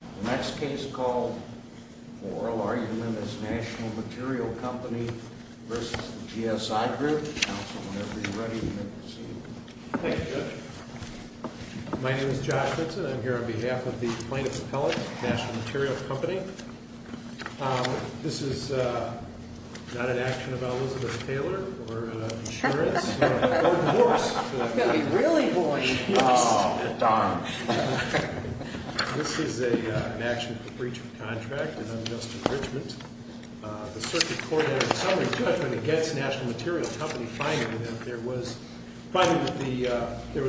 The next case called for oral argument is National Material Company v. GSI Group. Counsel, whenever you're ready, you may proceed. Thank you, Judge. My name is Josh Vinson. I'm here on behalf of the plaintiffs' appellate, National Material Company. This is not an action about Elizabeth Taylor or insurance. This is an action for breach of contract and unjust enrichment. The circuit court in summary, too, I find against National Material Company finding that there was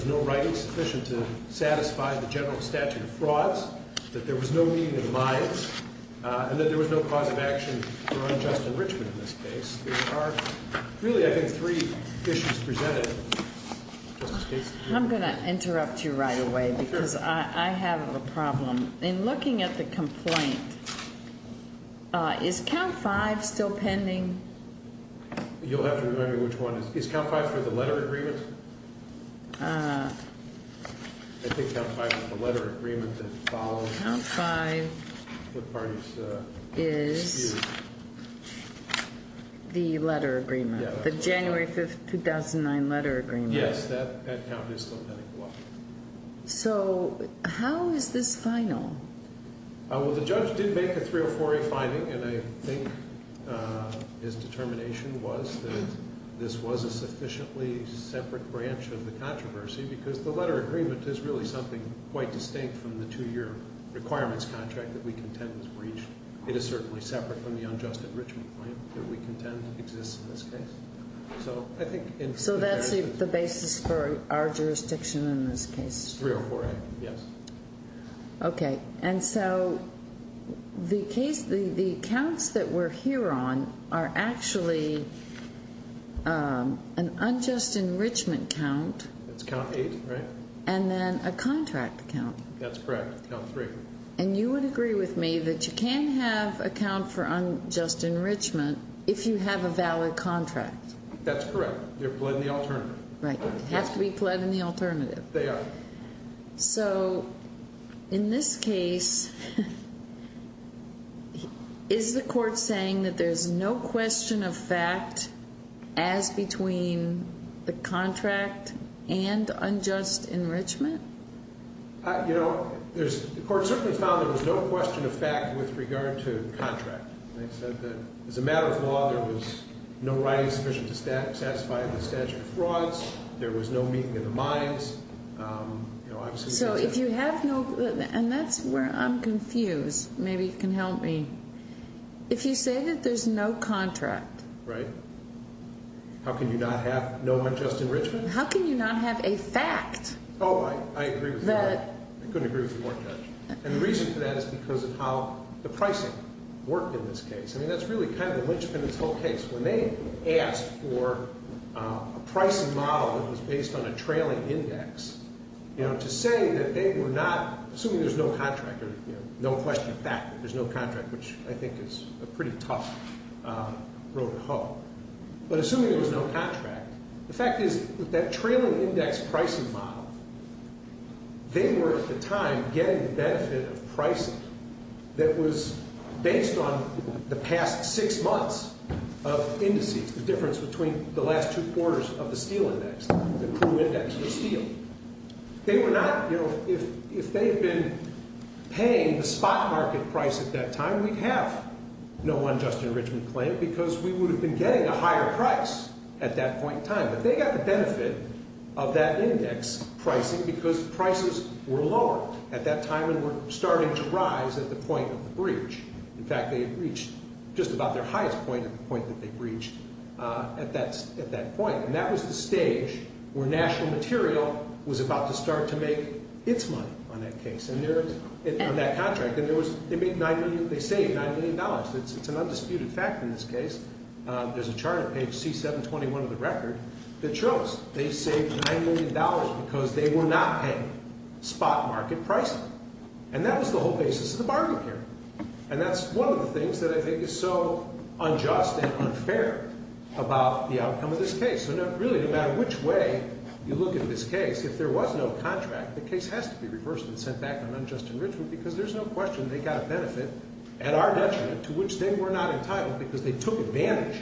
no writing sufficient to satisfy the general statute of frauds, that there was no meeting of minds, and that there was no cause of action for unjust enrichment in this case. There are really, I think, three issues presented in this case. I'm going to interrupt you right away because I have a problem. In looking at the complaint, is Count 5 still pending? You'll have to remind me which one. Is Count 5 for the letter agreement? I think Count 5 is the letter agreement that follows. Count 5 is the letter agreement, the January 5, 2009 letter agreement. Yes, that count is still pending. So how is this final? Well, the judge did make a 304A finding, and I think his determination was that this was a sufficiently separate branch of the controversy because the letter agreement is really something quite distinct from the two-year requirements contract that we contend was breached. It is certainly separate from the unjust enrichment claim that we contend exists in this case. So that's the basis for our jurisdiction in this case? 304A, yes. Okay, and so the counts that we're here on are actually an unjust enrichment count. That's Count 8, right? And then a contract count. That's correct, Count 3. And you would agree with me that you can't have a count for unjust enrichment if you have a valid contract? That's correct. They're pled in the alternative. Right, they have to be pled in the alternative. They are. So in this case, is the court saying that there's no question of fact as between the contract and unjust enrichment? You know, the court certainly found there was no question of fact with regard to the contract. As a matter of law, there was no writing sufficient to satisfy the statute of frauds. There was no meeting of the minds. So if you have no, and that's where I'm confused. Maybe you can help me. If you say that there's no contract. Right. How can you not have no unjust enrichment? How can you not have a fact? Oh, I agree with you. I couldn't agree with you more, Judge. And the reason for that is because of how the pricing worked in this case. I mean, that's really kind of the lynchpin in this whole case. When they asked for a pricing model that was based on a trailing index, you know, to say that they were not, assuming there's no contract, no question of fact that there's no contract, which I think is a pretty tough road to hoe. But assuming there was no contract, the fact is that that trailing index pricing model, they were at the time getting the benefit of pricing that was based on the past six months of indices, the difference between the last two quarters of the steel index, the crew index for steel. They were not, you know, if they had been paying the spot market price at that time, we'd have no unjust enrichment claim because we would have been getting a higher price at that point in time. But they got the benefit of that index pricing because prices were lower at that time and were starting to rise at the point of the breach. In fact, they had reached just about their highest point at the point that they breached at that point. And that was the stage where National Material was about to start to make its money on that case, on that contract. And they saved $9 million. It's an undisputed fact in this case. There's a chart at page C721 of the record that shows they saved $9 million because they were not paying spot market pricing. And that was the whole basis of the bargain here. And that's one of the things that I think is so unjust and unfair about the outcome of this case. Really, no matter which way you look at this case, if there was no contract, the case has to be reversed and sent back on unjust enrichment because there's no question they got a benefit at our detriment to which they were not entitled because they took advantage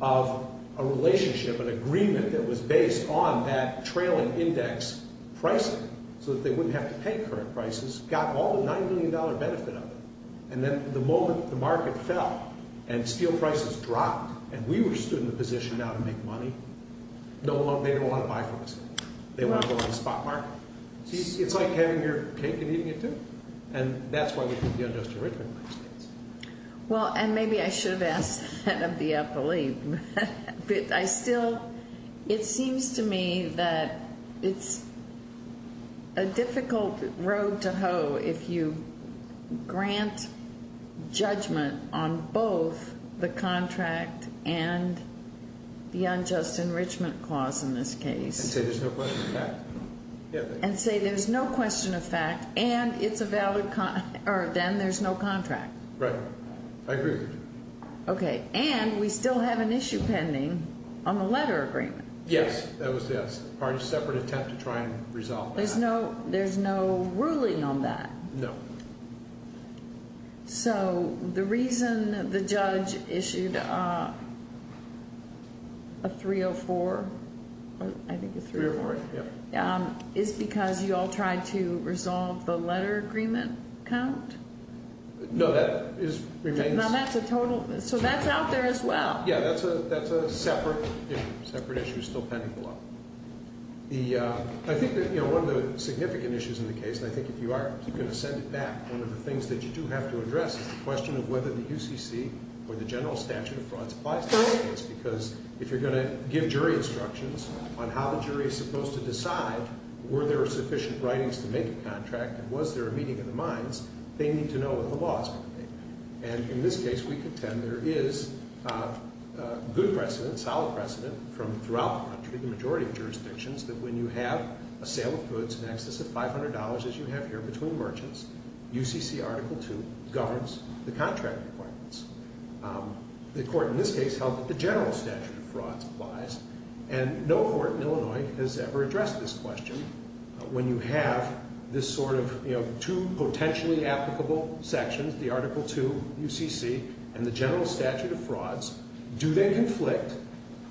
of a relationship, an agreement that was based on that trailing index pricing so that they wouldn't have to pay current prices, got all the $9 million benefit of it. And then the moment the market fell and steel prices dropped and we were stood in a position now to make money, they don't want to buy from us. They want to go on the spot market. It's like having your cake and eating it, too. And that's why we put the unjust enrichment on this case. Well, and maybe I should have asked that of the appellee. I still, it seems to me that it's a difficult road to hoe if you grant judgment on both the contract and the unjust enrichment clause in this case. And say there's no question of fact. And say there's no question of fact and it's a valid, or then there's no contract. Right. I agree with you. Okay. And we still have an issue pending on the letter agreement. Yes. That was a separate attempt to try and resolve that. There's no ruling on that. No. So the reason the judge issued a 304, I think a 304, is because you all tried to resolve the letter agreement count? No, that remains. Now, that's a total, so that's out there as well. Yeah, that's a separate issue. Separate issue is still pending below. I think that one of the significant issues in the case, and I think if you are going to send it back, one of the things that you do have to address is the question of whether the UCC or the general statute of frauds applies to this case. Because if you're going to give jury instructions on how the jury is supposed to decide were there sufficient writings to make a contract and was there a meeting in the minds, they need to know what the law is going to make. And in this case, we contend there is good precedent, solid precedent from throughout the country, the majority of jurisdictions, that when you have a sale of goods in excess of $500, as you have here, between merchants, UCC Article II governs the contract requirements. The court in this case held that the general statute of frauds applies. And no court in Illinois has ever addressed this question. When you have this sort of, you know, two potentially applicable sections, the Article II, UCC, and the general statute of frauds, do they conflict?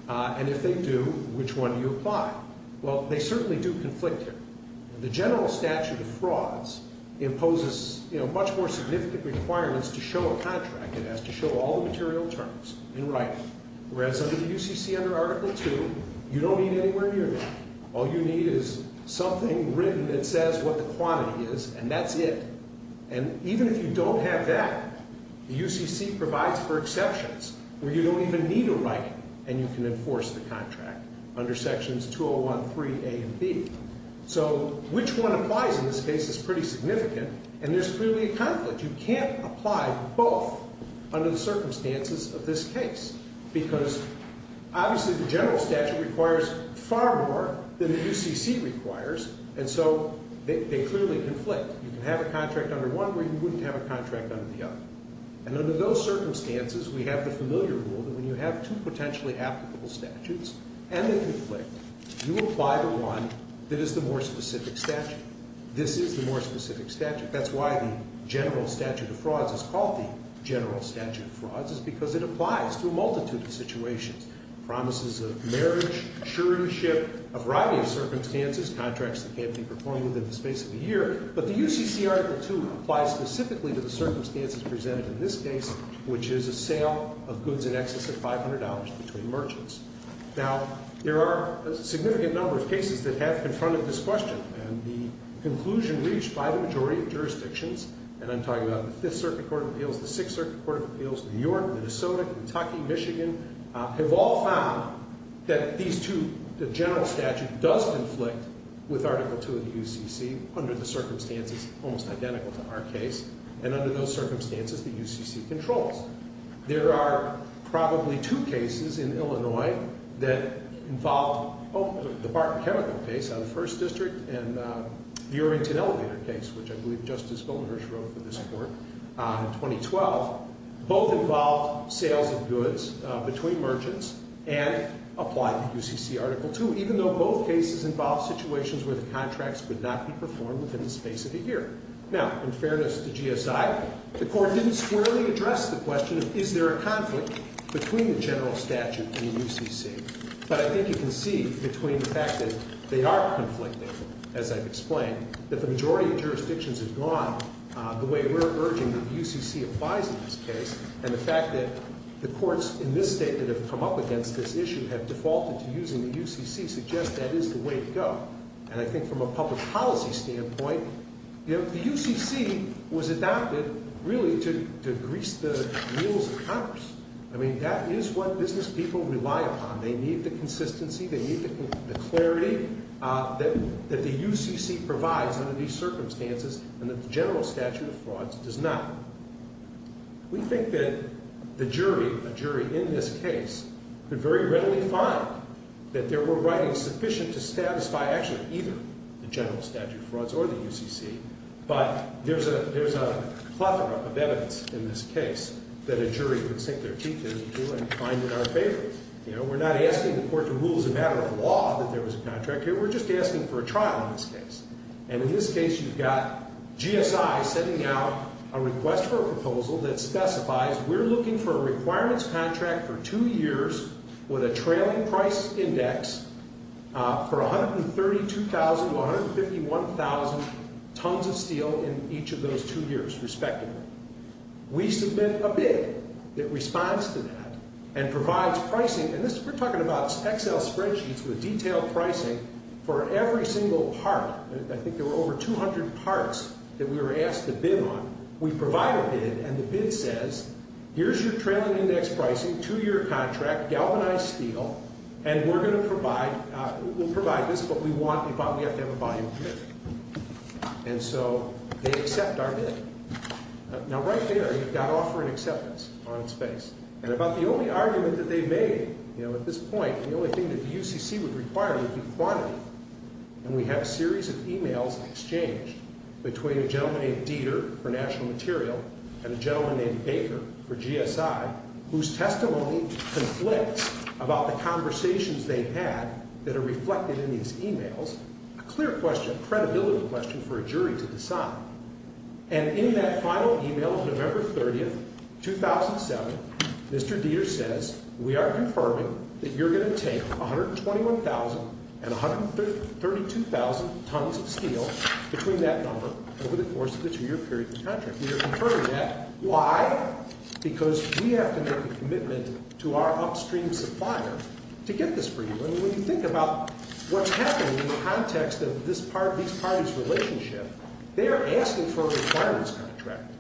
And if they do, which one do you apply? Well, they certainly do conflict here. The general statute of frauds imposes, you know, much more significant requirements to show a contract. It has to show all the material terms in writing. Whereas under the UCC, under Article II, you don't need anywhere near that. All you need is something written that says what the quantity is, and that's it. And even if you don't have that, the UCC provides for exceptions where you don't even need a writing, and you can enforce the contract under sections 201, 3A, and B. So which one applies in this case is pretty significant, and there's clearly a conflict. You can't apply both under the circumstances of this case because obviously the general statute requires far more than the UCC requires, and so they clearly conflict. You can have a contract under one where you wouldn't have a contract under the other. And under those circumstances, we have the familiar rule that when you have two potentially applicable statutes and they conflict, you apply the one that is the more specific statute. This is the more specific statute. That's why the general statute of frauds is called the general statute of frauds is because it applies to a multitude of situations, promises of marriage, assuranceship, a variety of circumstances, contracts that can't be performed within the space of a year. But the UCC Article II applies specifically to the circumstances presented in this case, which is a sale of goods in excess of $500 between merchants. Now, there are a significant number of cases that have confronted this question, and the conclusion reached by the majority of jurisdictions, and I'm talking about the Fifth Circuit Court of Appeals, the Sixth Circuit Court of Appeals, New York, Minnesota, Kentucky, Michigan, have all found that these two, the general statute does conflict with Article II of the UCC under the circumstances almost identical to our case, and under those circumstances, the UCC controls. There are probably two cases in Illinois that involve the Barton Chemical case on the First District and the Arlington Elevator case, which I believe Justice Goldenherz wrote for this Court in 2012. Both involve sales of goods between merchants and apply the UCC Article II, even though both cases involve situations where the contracts would not be performed within the space of a year. Now, in fairness to GSI, the Court didn't squarely address the question of is there a conflict between the general statute and the UCC? But I think you can see between the fact that they are conflicting, as I've explained, that the majority of jurisdictions have gone the way we're urging that the UCC applies in this case, and the fact that the courts in this state that have come up against this issue have defaulted to using the UCC suggests that is the way to go. And I think from a public policy standpoint, the UCC was adopted really to grease the wheels of Congress. I mean, that is what business people rely upon. They need the consistency. They need the clarity that the UCC provides under these circumstances and that the general statute of frauds does not. We think that the jury, a jury in this case, could very readily find that there were writings sufficient to satisfy actually either the general statute of frauds or the UCC, but there's a plethora of evidence in this case that a jury would sink their teeth into and find it unfavorable. You know, we're not asking the Court to rule as a matter of law that there was a contract here. We're just asking for a trial in this case. And in this case, you've got GSI sending out a request for a proposal that specifies we're looking for a requirements contract for two years with a trailing price index for 132,000 to 151,000 tons of steel in each of those two years, respectively. We submit a bid that responds to that and provides pricing. And this, we're talking about Excel spreadsheets with detailed pricing for every single part. I think there were over 200 parts that we were asked to bid on. We provide a bid, and the bid says, here's your trailing index pricing, two-year contract, galvanized steel, and we're going to provide, we'll provide this, but we want, we have to have a volume of 50. And so they accept our bid. Now, right there, you've got offer and acceptance on its face. And about the only argument that they made, you know, at this point, the only thing that the UCC would require would be quantity. And we have a series of e-mails exchanged between a gentleman named Dieter for national material and a gentleman named Baker for GSI, whose testimony conflicts about the conversations they had that are reflected in these e-mails, a clear question, a credibility question for a jury to decide. And in that final e-mail, November 30th, 2007, Mr. Dieter says, we are confirming that you're going to take 121,000 and 132,000 tons of steel between that number over the course of the two-year period of the contract. We are confirming that. Why? Because we have to make a commitment to our upstream supplier to get this for you. And when you think about what's happening in the context of this party's relationship, they are asking for a requirements contract.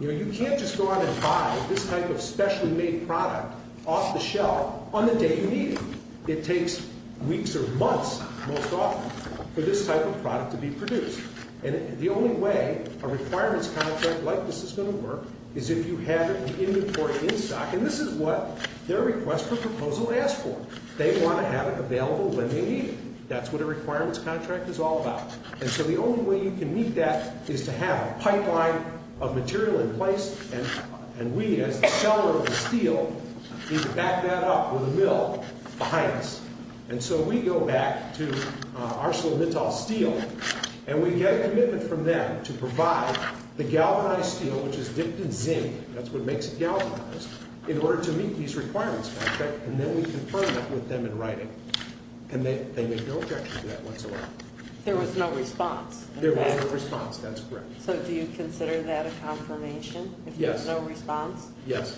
You know, you can't just go on and buy this type of specially made product off the shelf on the day you need it. It takes weeks or months, most often, for this type of product to be produced. And the only way a requirements contract like this is going to work is if you have it in inventory in stock. And this is what their request for proposal asked for. They want to have it available when they need it. That's what a requirements contract is all about. And so the only way you can meet that is to have a pipeline of material in place, and we, as the seller of the steel, need to back that up with a mill behind us. And so we go back to ArcelorMittal Steel, and we get a commitment from them to provide the galvanized steel, which is dipped in zinc. That's what makes it galvanized, in order to meet these requirements contract. And then we confirm that with them in writing. And they make no objection to that whatsoever. There was no response. There was no response. That's correct. So do you consider that a confirmation? Yes. No response? Yes.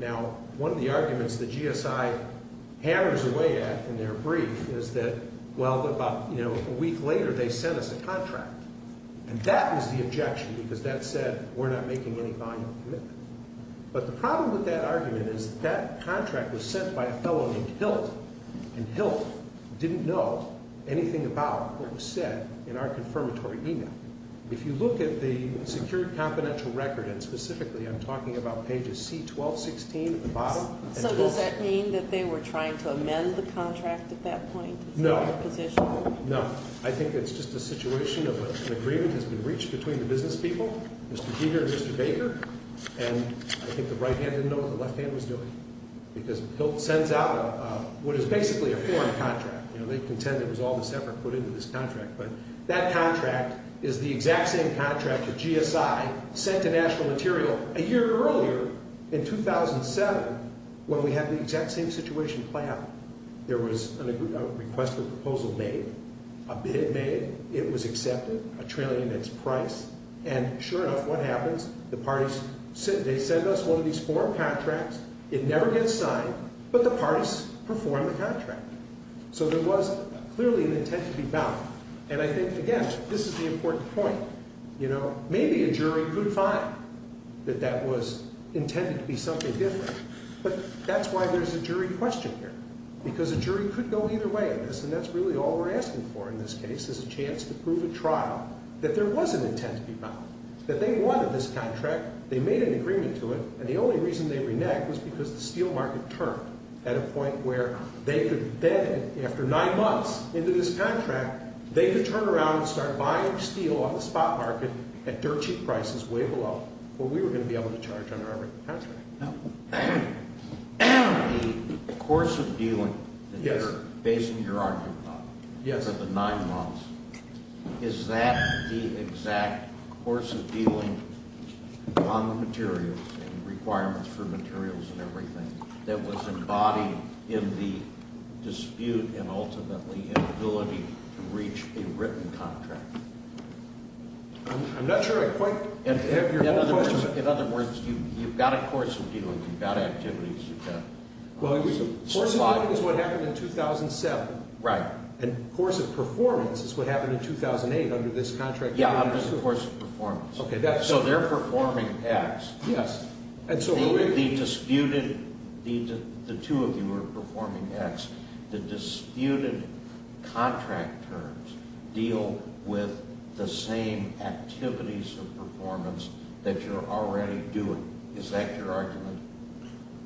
Now, one of the arguments that GSI hammers away at in their brief is that, well, about a week later, they sent us a contract. And that was the objection, because that said, we're not making any final commitment. But the problem with that argument is that contract was sent by a fellow named Hilt. And Hilt didn't know anything about what was said in our confirmatory email. If you look at the secured confidential record, and specifically I'm talking about pages C-12, 16 at the bottom. So does that mean that they were trying to amend the contract at that point? No. No. I think it's just a situation of an agreement has been reached between the business people, Mr. Dieter and Mr. Baker. And I think the right hand didn't know what the left hand was doing. Because Hilt sends out what is basically a foreign contract. They contend it was all this effort put into this contract. But that contract is the exact same contract that GSI sent to National Material a year earlier, in 2007, when we had the exact same situation planned. There was a requested proposal made, a bid made, it was accepted, a trillion in its price. And sure enough, what happens? The parties, they send us one of these foreign contracts. It never gets signed, but the parties perform the contract. So there was clearly an intent to be bound. And I think, again, this is the important point. You know, maybe a jury could find that that was intended to be something different. But that's why there's a jury question here. Because a jury could go either way in this, and that's really all we're asking for in this case, is a chance to prove at trial that there was an intent to be bound, that they wanted this contract, they made an agreement to it, and the only reason they reneged was because the steel market turned at a point where they could then, after nine months into this contract, they could turn around and start buying steel on the spot market at dirt cheap prices way below what we were going to be able to charge under our written contract. Now, the course of dealing that you're basing your argument on, the nine months, is that the exact course of dealing on the materials and requirements for materials and everything that was embodied in the dispute and ultimately inability to reach a written contract? I'm not sure I quite have your point. In other words, you've got a course of dealing. You've got activities you've got. Well, course of dealing is what happened in 2007. Right. And course of performance is what happened in 2008 under this contract. Yeah, of course, performance. So they're performing acts. Yes. The disputed – the two of you were performing acts. The disputed contract terms deal with the same activities of performance that you're already doing. Is that your argument?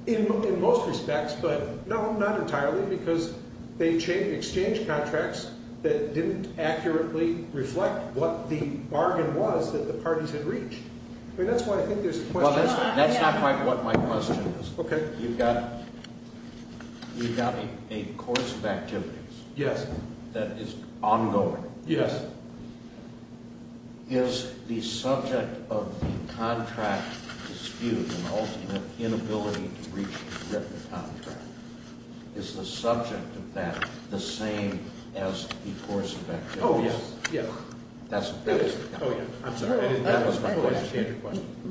In most respects, but no, not entirely, because they changed exchange contracts that didn't accurately reflect what the bargain was that the parties had reached. I mean, that's why I think there's a question. Well, that's not quite what my question is. Okay. You've got a course of activities. Yes. That is ongoing. Yes. Is the subject of the contract dispute and ultimately inability to reach a written contract, is the subject of that the same as the course of activities? Oh, yes. Yeah. Oh, yeah. I'm sorry. I didn't – that was my question.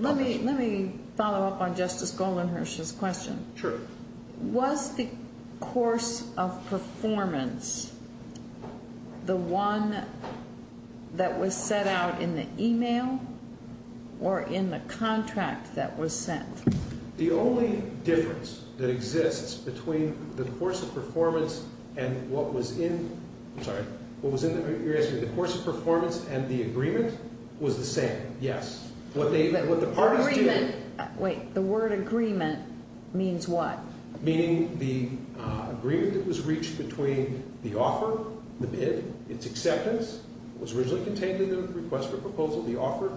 Let me follow up on Justice Goldenherz's question. Sure. Was the course of performance the one that was set out in the email or in the contract that was sent? The only difference that exists between the course of performance and what was in – I'm sorry. What was in the – you're asking the course of performance and the agreement was the same. Yes. What the parties did – Agreement. Wait. The word agreement means what? Meaning the agreement that was reached between the offer, the bid, its acceptance, was originally contained in the request for proposal, the offer,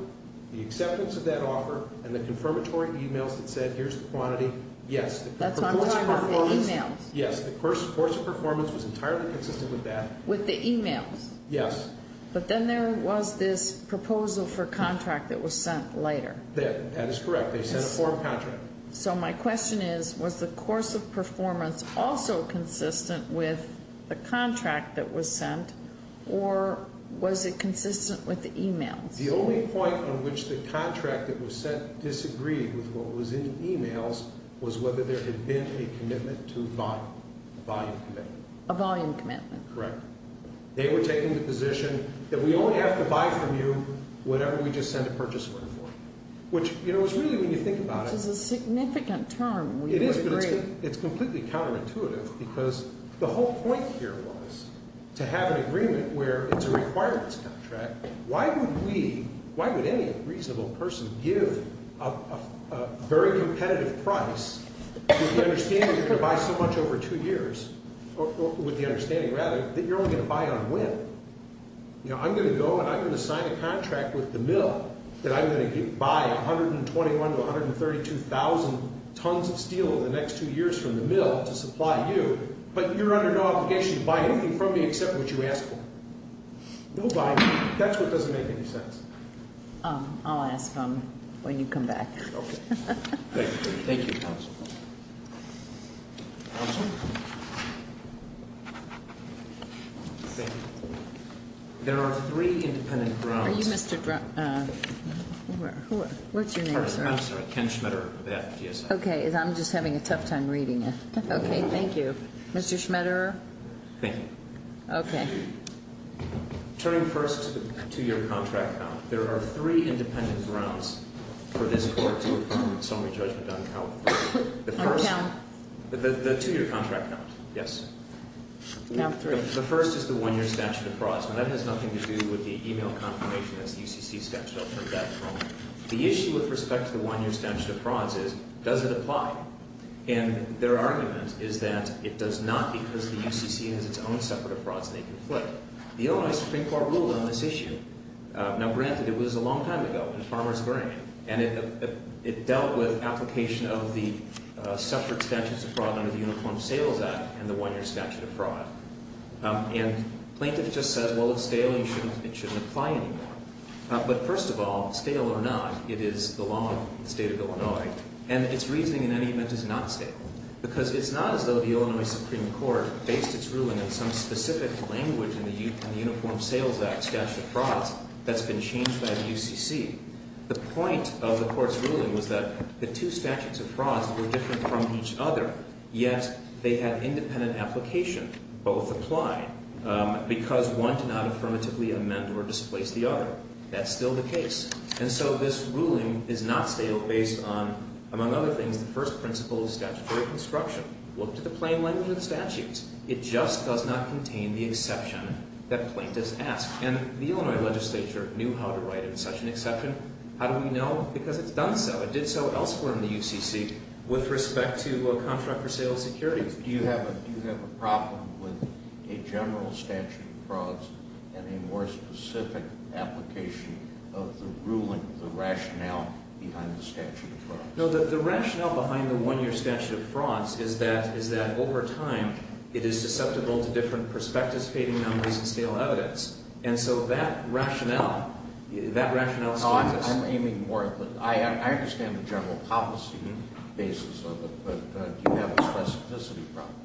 the acceptance of that offer, and the confirmatory emails that said here's the quantity. Yes. That's what I'm talking about, the emails. Yes. The course of performance was entirely consistent with that. With the emails? Yes. But then there was this proposal for contract that was sent later. That is correct. They sent a form contract. So my question is was the course of performance also consistent with the contract that was sent or was it consistent with the emails? The only point on which the contract that was sent disagreed with what was in the emails A volume commitment. A volume commitment. Correct. They were taking the position that we only have to buy from you whatever we just sent a purchase order for, which, you know, is really when you think about it – Which is a significant term. It is, but it's completely counterintuitive because the whole point here was to have an agreement where it's a requirements contract. Why would we, why would any reasonable person give a very competitive price with the understanding that you're going to buy so much over two years, or with the understanding rather, that you're only going to buy on whim? You know, I'm going to go and I'm going to sign a contract with the mill that I'm going to buy 121,000 to 132,000 tons of steel in the next two years from the mill to supply you, but you're under no obligation to buy anything from me except what you ask for. Nobody. That's what doesn't make any sense. I'll ask him when you come back. Okay. Thank you. Thank you, counsel. Counsel? Thank you. There are three independent grounds. Are you Mr. – who are – what's your name? I'm sorry. Ken Schmetter. Okay. I'm just having a tough time reading it. Okay. Thank you. Mr. Schmetter? Thank you. Okay. Turning first to your contract now, there are three independent grounds for this court to approve the summary judgment on account of – the first – On account? The two-year contract now. Yes. No. The first is the one-year statute of frauds. Now, that has nothing to do with the email confirmation. That's the UCC statute. I'll turn that home. The issue with respect to the one-year statute of frauds is does it apply? And their argument is that it does not because the UCC has its own separate frauds and they can flip. The Illinois Supreme Court ruled on this issue. Now, granted, it was a long time ago in a farmer's brain, and it dealt with application of the separate statutes of fraud under the Uniform Sales Act and the one-year statute of fraud. And plaintiff just says, well, it's stale and it shouldn't apply anymore. But first of all, stale or not, it is the law of the state of Illinois, and its reasoning in any event is not stale because it's not as though the Illinois Supreme Court based its ruling on some specific language in the Uniform Sales Act statute of frauds that's been changed by the UCC. The point of the court's ruling was that the two statutes of frauds were different from each other, yet they had independent application. Both applied because one did not affirmatively amend or displace the other. That's still the case. And so this ruling is not stale based on, among other things, the first principle of statutory construction. Look to the plain language of the statutes. It just does not contain the exception that plaintiffs ask. And the Illinois legislature knew how to write in such an exception. How do we know? Because it's done so. It did so elsewhere in the UCC with respect to contract for sale securities. Do you have a problem with a general statute of frauds and a more specific application of the ruling, the rationale behind the statute of frauds? No, the rationale behind the one-year statute of frauds is that, over time, it is susceptible to different perspectives, fading memories, and stale evidence. And so that rationale is not the same. No, I'm aiming more at that. I understand the general policy basis of it, but do you have a specificity problem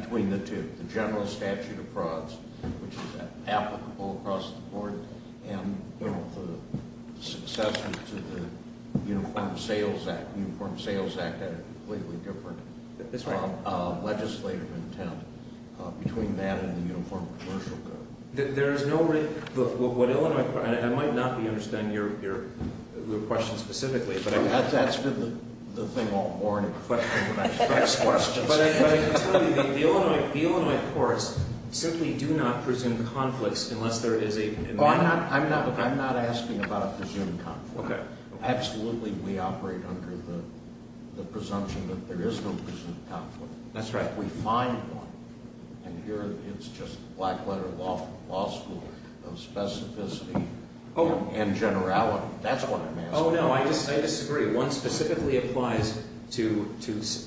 between the two? The general statute of frauds, which is applicable across the board, and the succession to the Uniform Sales Act. The Uniform Sales Act had a completely different legislative intent between that and the Uniform Commercial Code. I might not be understanding your question specifically, but that's for the thing I'll warn and question when I ask questions. But I can tell you, the Illinois courts simply do not presume conflicts unless there is a conflict. I'm not asking about a presumed conflict. Absolutely, we operate under the presumption that there is no presumed conflict. That's right. We find one, and here it's just black letter law school of specificity and generality. That's what it means. Oh, no, I disagree. One specifically applies to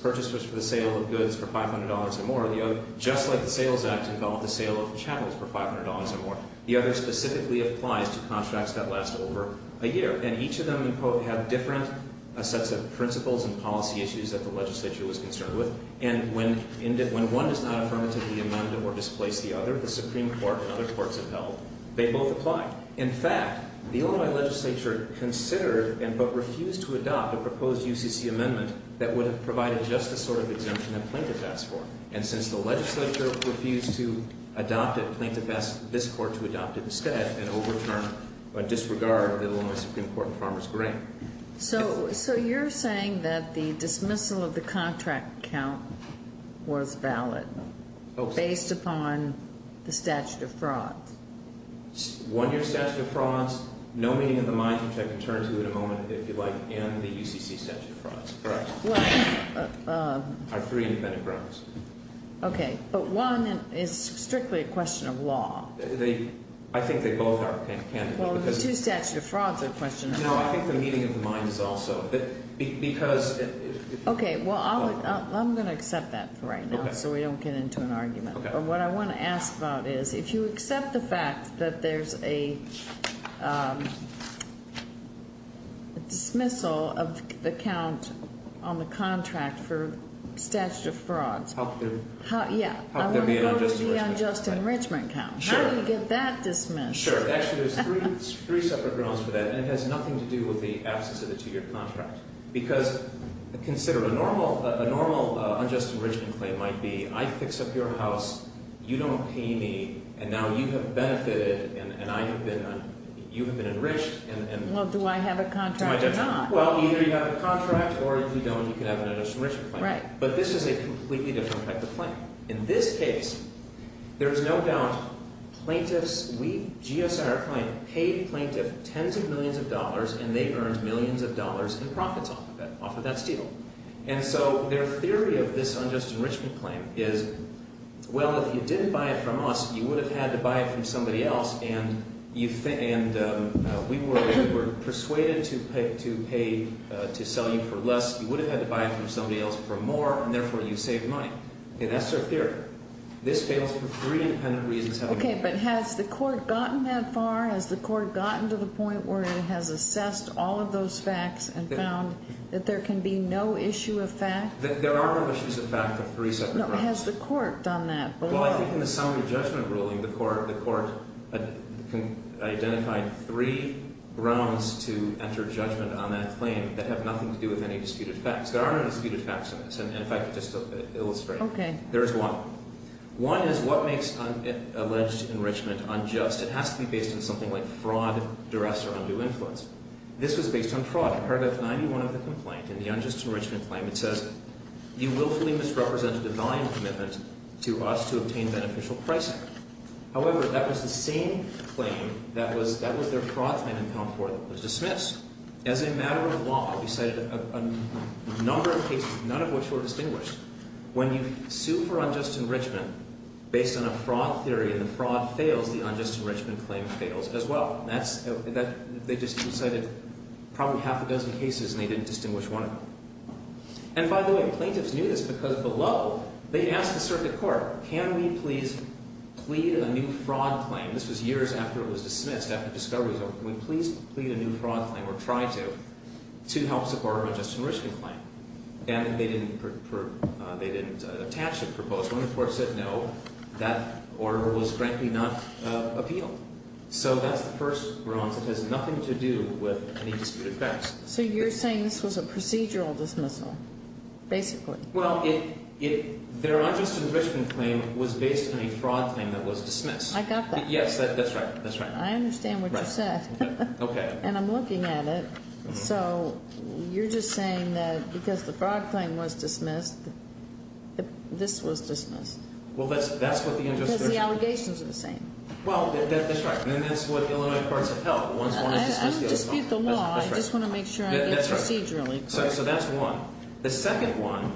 purchases for the sale of goods for $500 or more. The other, just like the Sales Act, involved the sale of channels for $500 or more. The other specifically applies to contracts that last over a year. And each of them have different sets of principles and policy issues that the legislature was concerned with. And when one does not affirmatively amend or displace the other, the Supreme Court and other courts have held, they both apply. In fact, the Illinois legislature considered but refused to adopt a proposed UCC amendment that would have provided just the sort of exemption that Plaintiff asked for. And since the legislature refused to adopt it, Plaintiff asked this court to adopt it by disregard of the Illinois Supreme Court and Farmers Grant. So you're saying that the dismissal of the contract count was valid based upon the statute of fraud? One-year statute of frauds, no meeting of the minds, which I can turn to in a moment if you'd like, and the UCC statute of frauds. Correct. Are three independent grounds. Okay. But one is strictly a question of law. I think they both are candidates. Well, the two statute of frauds are a question of law. No, I think the meeting of the minds is also. Okay, well, I'm going to accept that for right now so we don't get into an argument. Okay. But what I want to ask about is if you accept the fact that there's a dismissal of the count on the contract for statute of frauds. How could there be an unjust enrichment count? Sure. How do you get that dismissed? Sure. Actually, there's three separate grounds for that, and it has nothing to do with the absence of a two-year contract. Because consider a normal unjust enrichment claim might be I fix up your house, you don't pay me, and now you have benefited and you have been enriched. Well, do I have a contract or not? Well, either you have a contract, or if you don't, you can have an unjust enrichment claim. Right. But this is a completely different type of claim. In this case, there is no doubt plaintiffs, we, GSIR claim, paid plaintiff tens of millions of dollars, and they earned millions of dollars in profits off of that steal. And so their theory of this unjust enrichment claim is, well, if you didn't buy it from us, you would have had to buy it from somebody else, and we were persuaded to pay, to sell you for less. You would have had to buy it from somebody else for more, and therefore you saved money. Okay, that's their theory. This fails for three independent reasons. Okay, but has the court gotten that far? Has the court gotten to the point where it has assessed all of those facts and found that there can be no issue of fact? There are no issues of fact of three separate grounds. No, but has the court done that? Well, I think in the summary judgment ruling, the court identified three grounds to enter judgment on that claim that have nothing to do with any disputed facts. There are no disputed facts in this, and if I could just illustrate. Okay. There is one. One is what makes alleged enrichment unjust? It has to be based on something like fraud, duress, or undue influence. This was based on fraud. Paragraph 91 of the complaint, in the unjust enrichment claim, it says, you willfully misrepresent a divine commitment to us to obtain beneficial pricing. However, that was the same claim that was their fraud claim in Comfort that was dismissed. As a matter of law, we cited a number of cases, none of which were distinguished. When you sue for unjust enrichment based on a fraud theory and the fraud fails, the unjust enrichment claim fails as well. They just cited probably half a dozen cases and they didn't distinguish one of them. And by the way, plaintiffs knew this because below, they asked the circuit court, can we please plead a new fraud claim? This was years after it was dismissed, after the discovery was over. Can we please plead a new fraud claim, or try to, to help support our unjust enrichment claim? And they didn't attach a proposal, and the court said no. That order was, frankly, not appealed. So that's the first grounds. It has nothing to do with any disputed facts. So you're saying this was a procedural dismissal, basically? Well, their unjust enrichment claim was based on a fraud claim that was dismissed. I got that. Yes, that's right. That's right. I understand what you said. Okay. And I'm looking at it. So you're just saying that because the fraud claim was dismissed, this was dismissed. Well, that's what the unjust enrichment claim was. Because the allegations are the same. Well, that's right. And that's what Illinois courts have held. I don't dispute the law. I just want to make sure I get procedurally correct. So that's one. The second one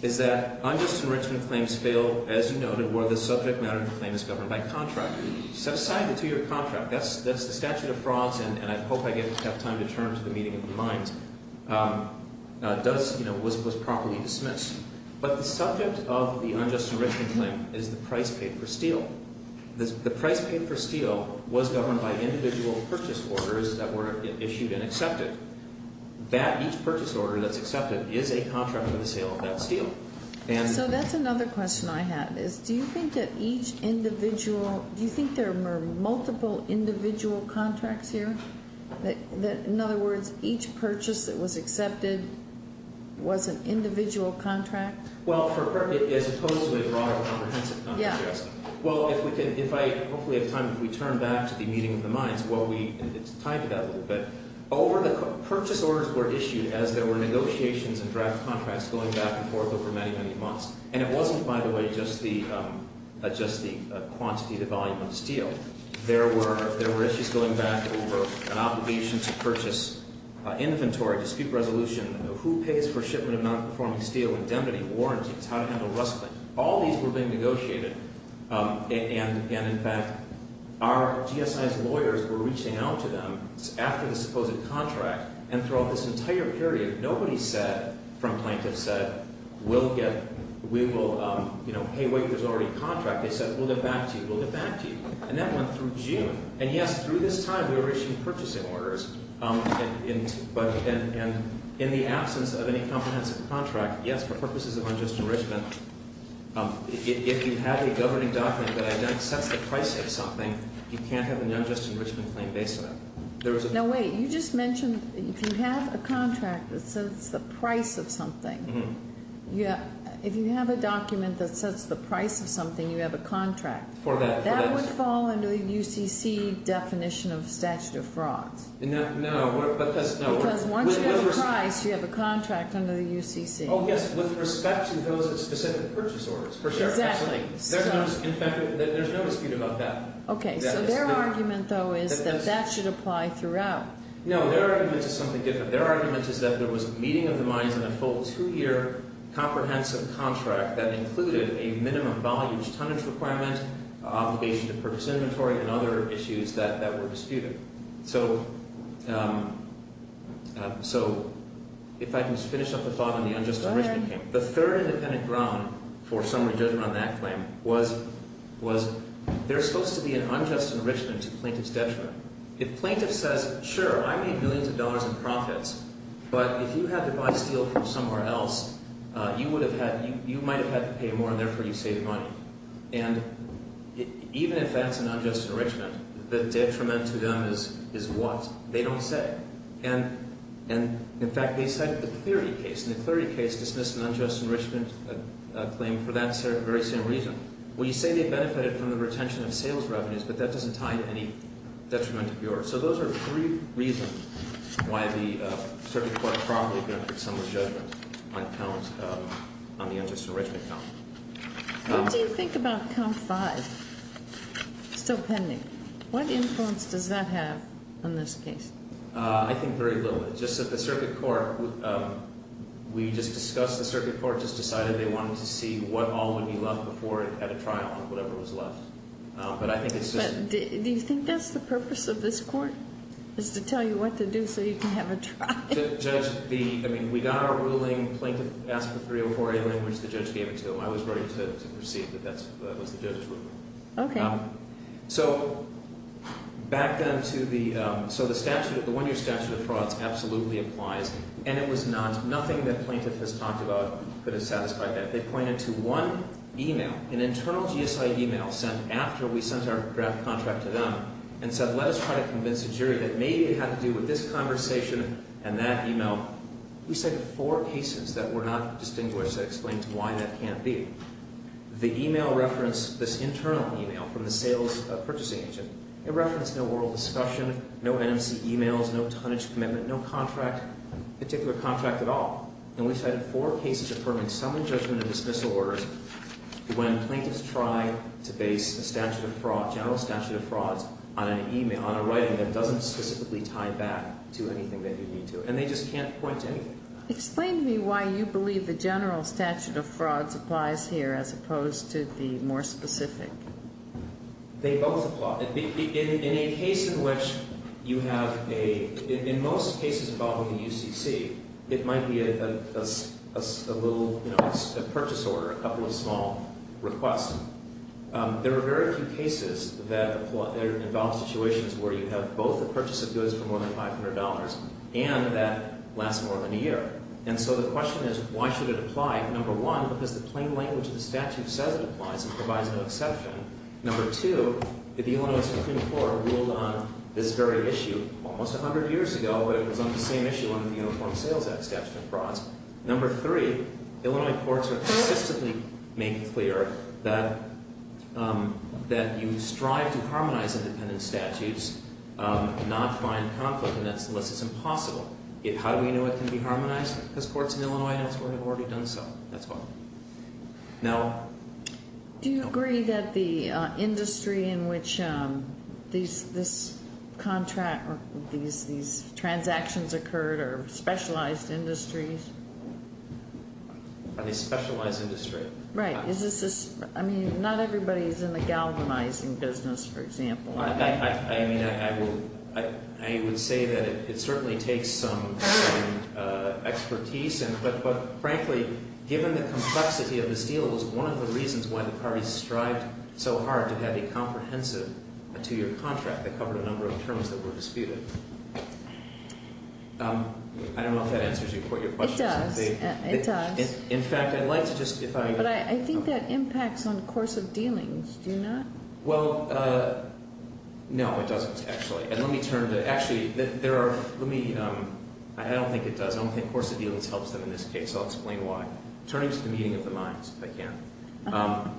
is that unjust enrichment claims fail, as you noted, where the subject matter of the claim is governed by contract. Set aside the two-year contract. That's the statute of frauds, and I hope I have time to turn to the meeting of the minds. It was properly dismissed. But the subject of the unjust enrichment claim is the price paid for steel. The price paid for steel was governed by individual purchase orders that were issued and accepted. Each purchase order that's accepted is a contract for the sale of that steel. So that's another question I had, is do you think that each individual, do you think there were multiple individual contracts here? In other words, each purchase that was accepted was an individual contract? Well, as opposed to a broad comprehensive contract. Well, if I hopefully have time, if we turn back to the meeting of the minds, and it's tied to that a little bit, purchase orders were issued as there were negotiations and draft contracts going back and forth over many, many months. And it wasn't, by the way, just the quantity, the volume of steel. There were issues going back over an obligation to purchase inventory, dispute resolution, who pays for shipment of non-performing steel, indemnity, warranties, how to handle rustling. All these were being negotiated. And, in fact, our GSIs lawyers were reaching out to them after the supposed contract. And throughout this entire period, nobody said, from plaintiffs said, we'll get, we will, you know, hey, wait, there's already a contract. They said, we'll get back to you. We'll get back to you. And that went through June. And, yes, through this time, we were issuing purchasing orders. And in the absence of any comprehensive contract, yes, for purposes of unjust enrichment, if you have a governing document that sets the price of something, you can't have an unjust enrichment claim based on it. Now, wait. You just mentioned if you have a contract that sets the price of something. If you have a document that sets the price of something, you have a contract. For that. That would fall under the UCC definition of statute of frauds. No. Because once you have a price, you have a contract under the UCC. Oh, yes, with respect to those specific purchase orders, for sure. Exactly. In fact, there's no dispute about that. Okay. So their argument, though, is that that should apply throughout. No. Their argument is something different. Their argument is that there was meeting of the minds in a full two-year comprehensive contract that included a minimum volume tonnage requirement, obligation to purchase inventory, and other issues that were disputed. Okay. So if I can just finish up the thought on the unjust enrichment claim. The third independent ground for summary judgment on that claim was there's supposed to be an unjust enrichment to plaintiff's detriment. If plaintiff says, sure, I made millions of dollars in profits, but if you had to buy steel from somewhere else, you might have had to pay more, and therefore you saved money. And even if that's an unjust enrichment, the detriment to them is what? They don't say. And, in fact, they cited the Clarity case. And the Clarity case dismissed an unjust enrichment claim for that very same reason. Well, you say they benefited from the retention of sales revenues, but that doesn't tie to any detriment of yours. So those are three reasons why the Circuit Court probably granted summary judgment on the unjust enrichment count. What do you think about count five still pending? What influence does that have on this case? I think very little. Just that the Circuit Court, we just discussed the Circuit Court just decided they wanted to see what all would be left before it had a trial, whatever was left. But I think it's just. Do you think that's the purpose of this court, is to tell you what to do so you can have a trial? I mean, we got our ruling. Plaintiff asked for 304A language. The judge gave it to him. I was ready to proceed, but that was the judge's ruling. Okay. So back then to the... So the one-year statute of frauds absolutely applies. And it was not... Nothing that plaintiff has talked about could have satisfied that. They pointed to one email, an internal GSI email sent after we sent our draft contract to them and said, let us try to convince the jury that maybe it had to do with this conversation and that email. We cited four cases that were not distinguished that explained why that can't be. The email referenced this internal email from the sales purchasing agent. It referenced no oral discussion, no NMC emails, no tonnage commitment, no contract, particular contract at all. And we cited four cases affirming some of the judgment and dismissal orders when plaintiffs try to base a statute of fraud, general statute of frauds, on an email, on a writing that doesn't specifically tie back to anything that you need to. And they just can't point to anything. Explain to me why you believe the general statute of frauds applies here as opposed to the more specific. They both apply. In a case in which you have a... In most cases involving the UCC, it might be a little, you know, a purchase order, a couple of small requests. There are very few cases that involve situations where you have both a purchase of goods for more than $500 and that lasts more than a year. And so the question is, why should it apply? Number one, because the plain language of the statute says it applies and provides no exception. Number two, if the Illinois Supreme Court ruled on this very issue almost 100 years ago, it was on the same issue under the Uniform Sales Act statute of frauds. Number three, Illinois courts are consistently making clear that you strive to harmonize independent statutes, not find conflict in it, unless it's impossible. How do we know it can be harmonized? Because courts in Illinois have already done so. That's why. Now... Do you agree that the industry in which these transactions occurred are specialized industries? Are they specialized industries? Right. I mean, not everybody is in the galvanizing business, for example. I mean, I would say that it certainly takes some expertise. But frankly, given the complexity of this deal, it was one of the reasons why the parties strived so hard to have a comprehensive two-year contract that covered a number of terms that were disputed. I don't know if that answers your question. It does. In fact, I'd like to just... But I think that impacts on the course of dealings, do you not? Well, no, it doesn't, actually. And let me turn to... Actually, there are... Let me... I don't think it does. I don't think course of dealings helps them in this case. I'll explain why. Turning to the meeting of the minds, if I can.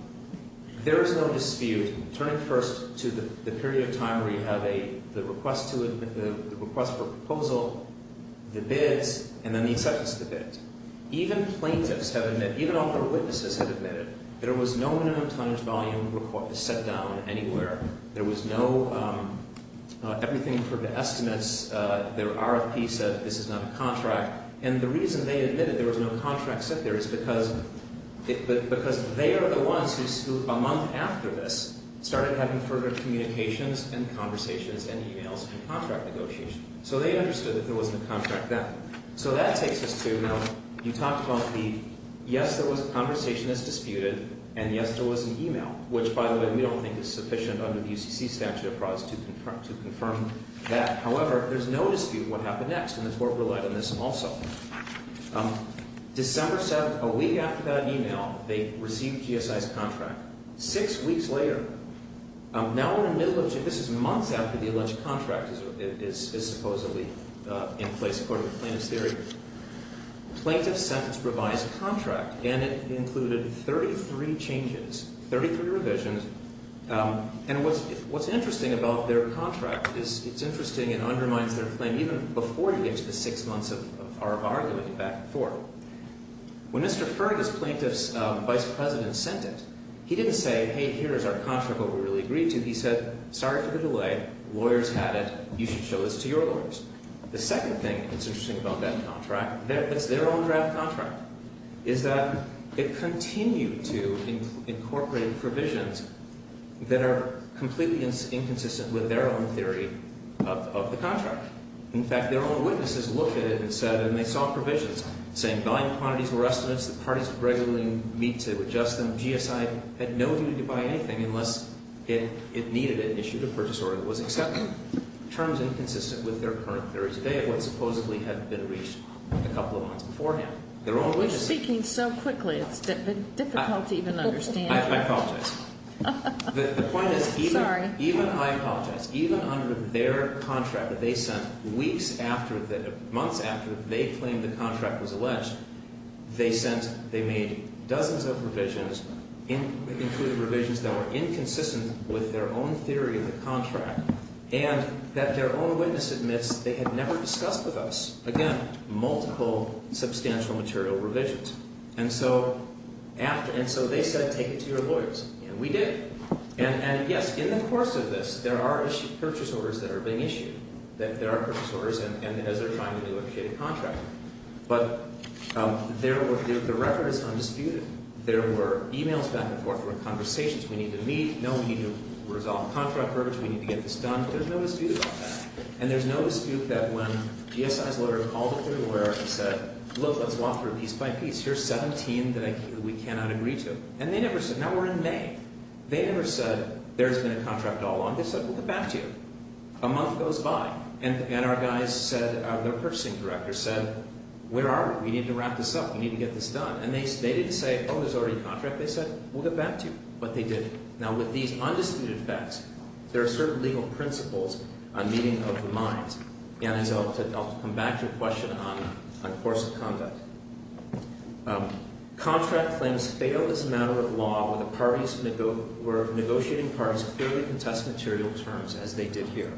There is no dispute. Turning first to the period of time where you have the request for a proposal, the bids, and then the acceptance of the bid. Even plaintiffs have admitted... Even author witnesses have admitted. There was no minimum tonnage volume set down anywhere. There was no... Everything for the estimates. There are a piece of... This is not a contract. And the reason they admitted there was no contract set there is because... Because they are the ones who, a month after this, started having further communications and conversations and e-mails and contract negotiations. So they understood that there wasn't a contract then. So that takes us to... You talked about the... Yes, there was a conversation that's disputed. And yes, there was an e-mail. Which, by the way, we don't think is sufficient under the UCC statute of frauds to confirm that. However, there's no dispute what happened next. And the court relied on this also. December 7th, a week after that e-mail, they received GSI's contract. Six weeks later... Now we're in the middle of... This is months after the alleged contract is supposedly in place, according to plaintiff's theory. Plaintiff's sentence provides a contract. And it included 33 changes. 33 revisions. And what's interesting about their contract is it's interesting and undermines their claim. Even before you get to the six months of arguing back and forth. When Mr. Fergus, plaintiff's vice president, sent it, he didn't say, hey, here is our contract, what we really agreed to. He said, sorry for the delay. Lawyers had it. You should show this to your lawyers. The second thing that's interesting about that contract, that's their own draft contract, is that it continued to incorporate provisions that are completely inconsistent with their own theory of the contract. In fact, their own witnesses looked at it and said... And they saw provisions saying volume quantities were estimates. The parties regularly meet to adjust them. GSI had no need to buy anything unless it needed it and issued a purchase order that was acceptable. Terms inconsistent with their current theory today of what supposedly had been reached a couple of months beforehand. You're speaking so quickly, it's difficult to even understand. I apologize. The point is... Sorry. Even, I apologize. Even under their contract that they sent weeks after, months after they claimed the contract was alleged, they sent, they made dozens of revisions, including revisions that were inconsistent with their own theory of the contract, and that their own witness admits they had never discussed with us. Again, multiple substantial material revisions. And so, after... And so they said, take it to your lawyers. And we did. And yes, in the course of this, there are purchase orders that are being issued. There are purchase orders, and as they're trying to negotiate a contract. But there were... The record is undisputed. There were emails back and forth. There were conversations. We need to meet. No, we need to resolve contract verdicts. We need to get this done. There's no dispute about that. And there's no dispute that when GSI's lawyer called up their lawyer and said, look, let's walk through piece by piece. Here's 17 that we cannot agree to. And they never said... Now, we're in May. They never said, there's been a contract all along. They said, we'll get back to you. A month goes by. And our guys said, their purchasing director said, where are we? We need to wrap this up. We need to get this done. And they didn't say, oh, there's already a contract. They said, we'll get back to you. But they didn't. Now, with these undisputed facts, there are certain legal principles on meeting of the minds. And I'll come back to your question on course of conduct. Contract claims fail as a matter of law where negotiating parties clearly contest material terms, as they did here.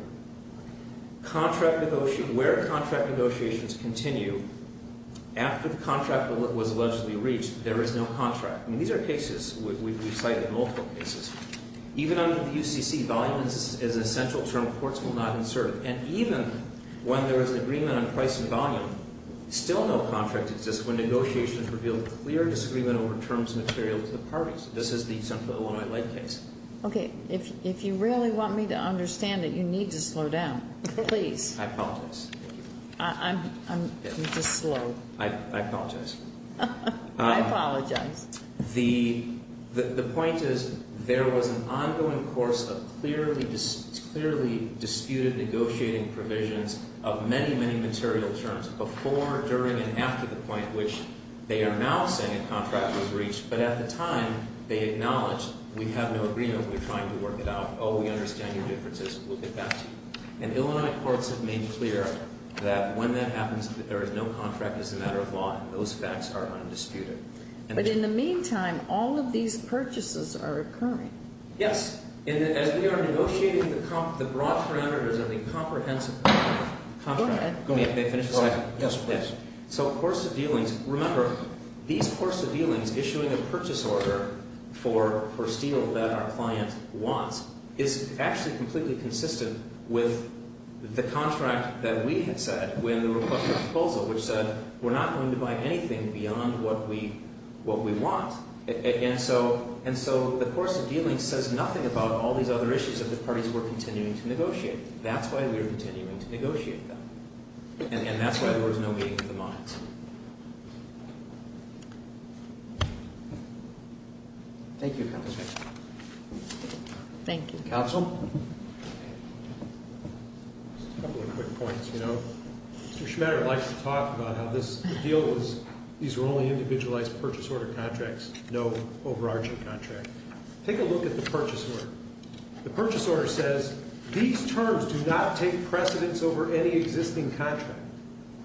Where contract negotiations continue, after the contract was allegedly reached, there is no contract. I mean, these are cases. We've cited multiple cases. Even under the UCC, volume is an essential term. Courts will not insert it. And even when there is an agreement on price and volume, still no contract exists when negotiations reveal clear disagreement over terms and material to the parties. This is the Central Illinois Light case. Okay. If you really want me to understand it, you need to slow down. Please. I apologize. I'm just slow. I apologize. I apologize. The point is, there was an ongoing course of clearly disputed negotiating provisions of many, many material terms before, during, and after the point which they are now saying a contract was reached. But at the time, they acknowledged, we have no agreement. We're trying to work it out. Oh, we understand your differences. We'll get back to you. And Illinois courts have made clear that when that happens, there is no contract. It's a matter of law, and those facts are undisputed. But in the meantime, all of these purchases are occurring. Yes. As we are negotiating the broad parameters of the comprehensive contract. Go ahead. May I finish this? Yes, please. So, course of dealings. Remember, these course of dealings, issuing a purchase order for steel that our client wants, is actually completely consistent with the contract that we had said when the proposal, which said, we're not going to buy anything beyond what we want. And so, the course of dealings says nothing about all these other issues that the parties were continuing to negotiate. That's why we were continuing to negotiate them. And that's why there was no meeting of the minds. Thank you, counsel. Thank you. Counsel? Just a couple of quick points. You know, Mr. Schmaderer likes to talk about how this deal was, these were only individualized purchase order contracts, no overarching contract. Take a look at the purchase order. The purchase order says, these terms do not take precedence over any existing contract.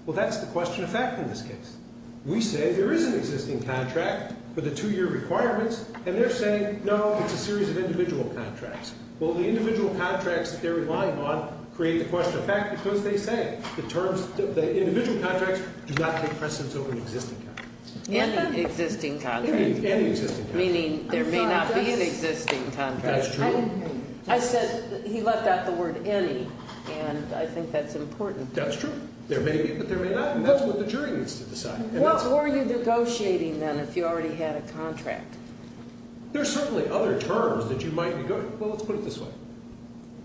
Well, that's the question of fact in this case. We say there is an existing contract for the two-year requirements, and they're saying, no, it's a series of individual contracts. Well, the individual contracts that they're relying on create the question of fact because they say the individual contracts do not take precedence over an existing contract. Any existing contract. Any existing contract. Meaning there may not be an existing contract. I didn't hear you. I said he left out the word any, and I think that's important. That's true. There may be, but there may not. And that's what the jury needs to decide. What were you negotiating, then, if you already had a contract? There are certainly other terms that you might negotiate. Well, let's put it this way.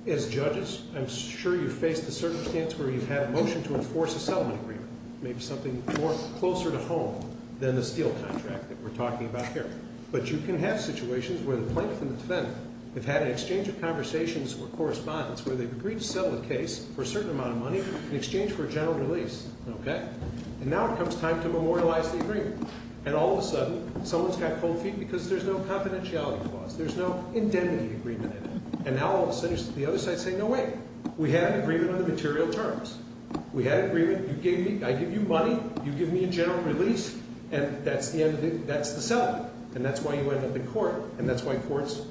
As judges, I'm sure you've faced the circumstance where you've had a motion to enforce a settlement agreement. Maybe something more closer to home than the steel contract that we're talking about here. But you can have situations where the plaintiff and the defendant have had an exchange of conversations or correspondence where they've agreed to sell the case for a certain amount of money in exchange for a general release, okay? And now it comes time to memorialize the agreement. And all of a sudden, someone's got cold feet because there's no confidentiality clause. There's no indemnity agreement in it. And now all of a sudden, the other side's saying, no way. We had an agreement on the material terms. We had an agreement. You gave me, I give you money. You give me a general release. And that's the end of it. And that's why you end up in court. And that's why courts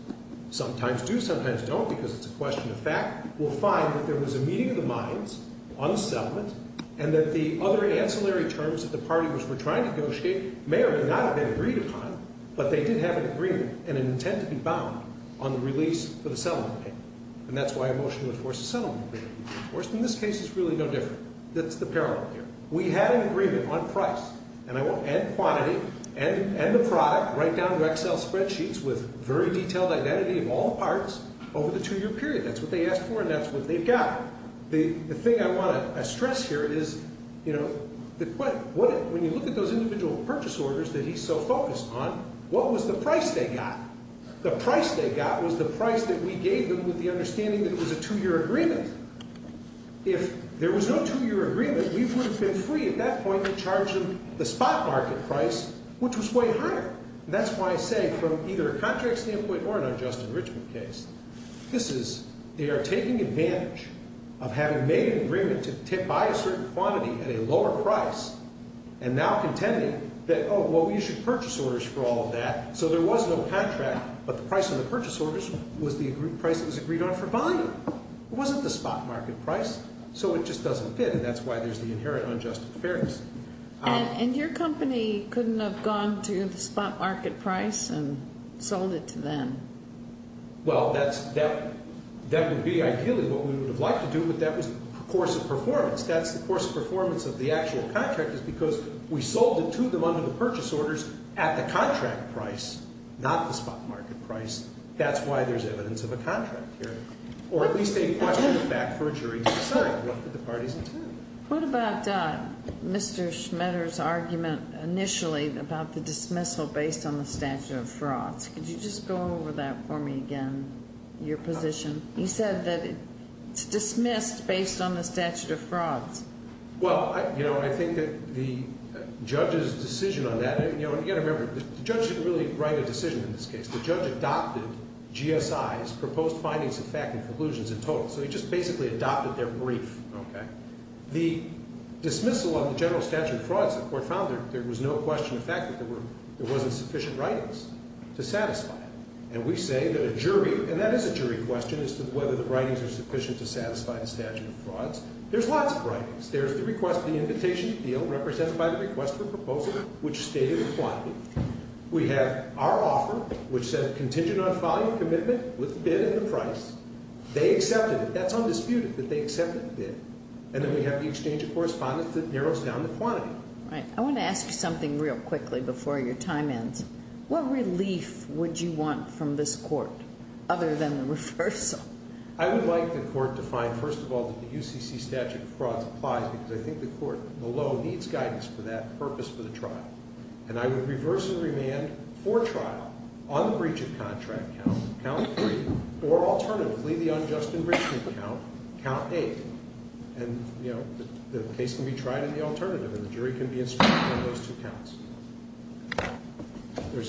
sometimes do, sometimes don't because it's a question of fact. We'll find that there was a meeting of the minds on the settlement and that the other ancillary terms that the parties were trying to negotiate may or may not have been agreed upon. But they did have an agreement and an intent to be bound on the release for the settlement payment. And that's why a motion to enforce a settlement agreement. Of course, in this case, it's really no different. That's the parallel here. We had an agreement on price. And I won't end quantity. End the product. Write down to Excel spreadsheets with very detailed identity of all the parts over the two-year period. That's what they asked for and that's what they've got. The thing I want to stress here is, you know, when you look at those individual purchase orders that he's so focused on, what was the price they got? The price they got was the price that we gave them with the understanding that it was a two-year agreement. If there was no two-year agreement, we would have been free at that point to charge them the spot market price, which was way higher. And that's why I say from either a contract standpoint or an unjust enrichment case, this is they are taking advantage of having made an agreement to buy a certain quantity at a lower price and now contending that, oh, well, you should purchase orders for all of that. So there was no contract, but the price on the purchase orders was the price that was agreed on for buying. It wasn't the spot market price, so it just doesn't fit and that's why there's the inherent unjust fairness. And your company couldn't have gone to the spot market price and sold it to them? Well, that would be ideally what we would have liked to do, but that was the course of performance. That's the course of performance of the actual contract is because we sold it to them under the purchase orders at the contract price, not the spot market price. That's why there's evidence of a contract here, or at least a question of fact for a jury to decide what the parties intended. What about Mr. Schmetter's argument initially about the dismissal based on the statute of frauds? Could you just go over that for me again, your position? You said that it's dismissed based on the statute of frauds. Well, I think that the judge's decision on that, and again, remember, the judge didn't really write a decision in this case. The judge adopted GSI's proposed findings of fact and conclusions in total, so he just basically adopted their brief. The dismissal of the general statute of frauds, the court found there was no question of fact that there wasn't sufficient writings to satisfy it. And we say that a jury, and that is a jury question as to whether the writings are sufficient to satisfy the statute of frauds. There's lots of writings. There's the request for the invitation to deal represented by the request for proposal, which stated the quantity. We have our offer, which said contingent on following commitment with bid and the price. They accepted it. That's undisputed that they accepted the bid. And then we have the exchange of correspondence that narrows down the quantity. Right. I want to ask you something real quickly before your time ends. What relief would you want from this court other than the reversal? I would like the court to find, first of all, that the UCC statute of frauds applies because I think the court below needs guidance for that purpose for the trial. And I would reverse the remand for trial on the breach of contract count, count three, or alternatively, the unjust enrichment count, count eight. And, you know, the case can be tried at the alternative, and the jury can be instructed on those two counts.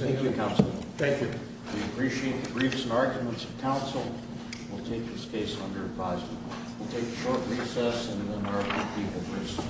Thank you, Counsel. Thank you. We appreciate the briefs and arguments of counsel. We'll take this case under advisement. We'll take a short recess, and then there will be people briefed.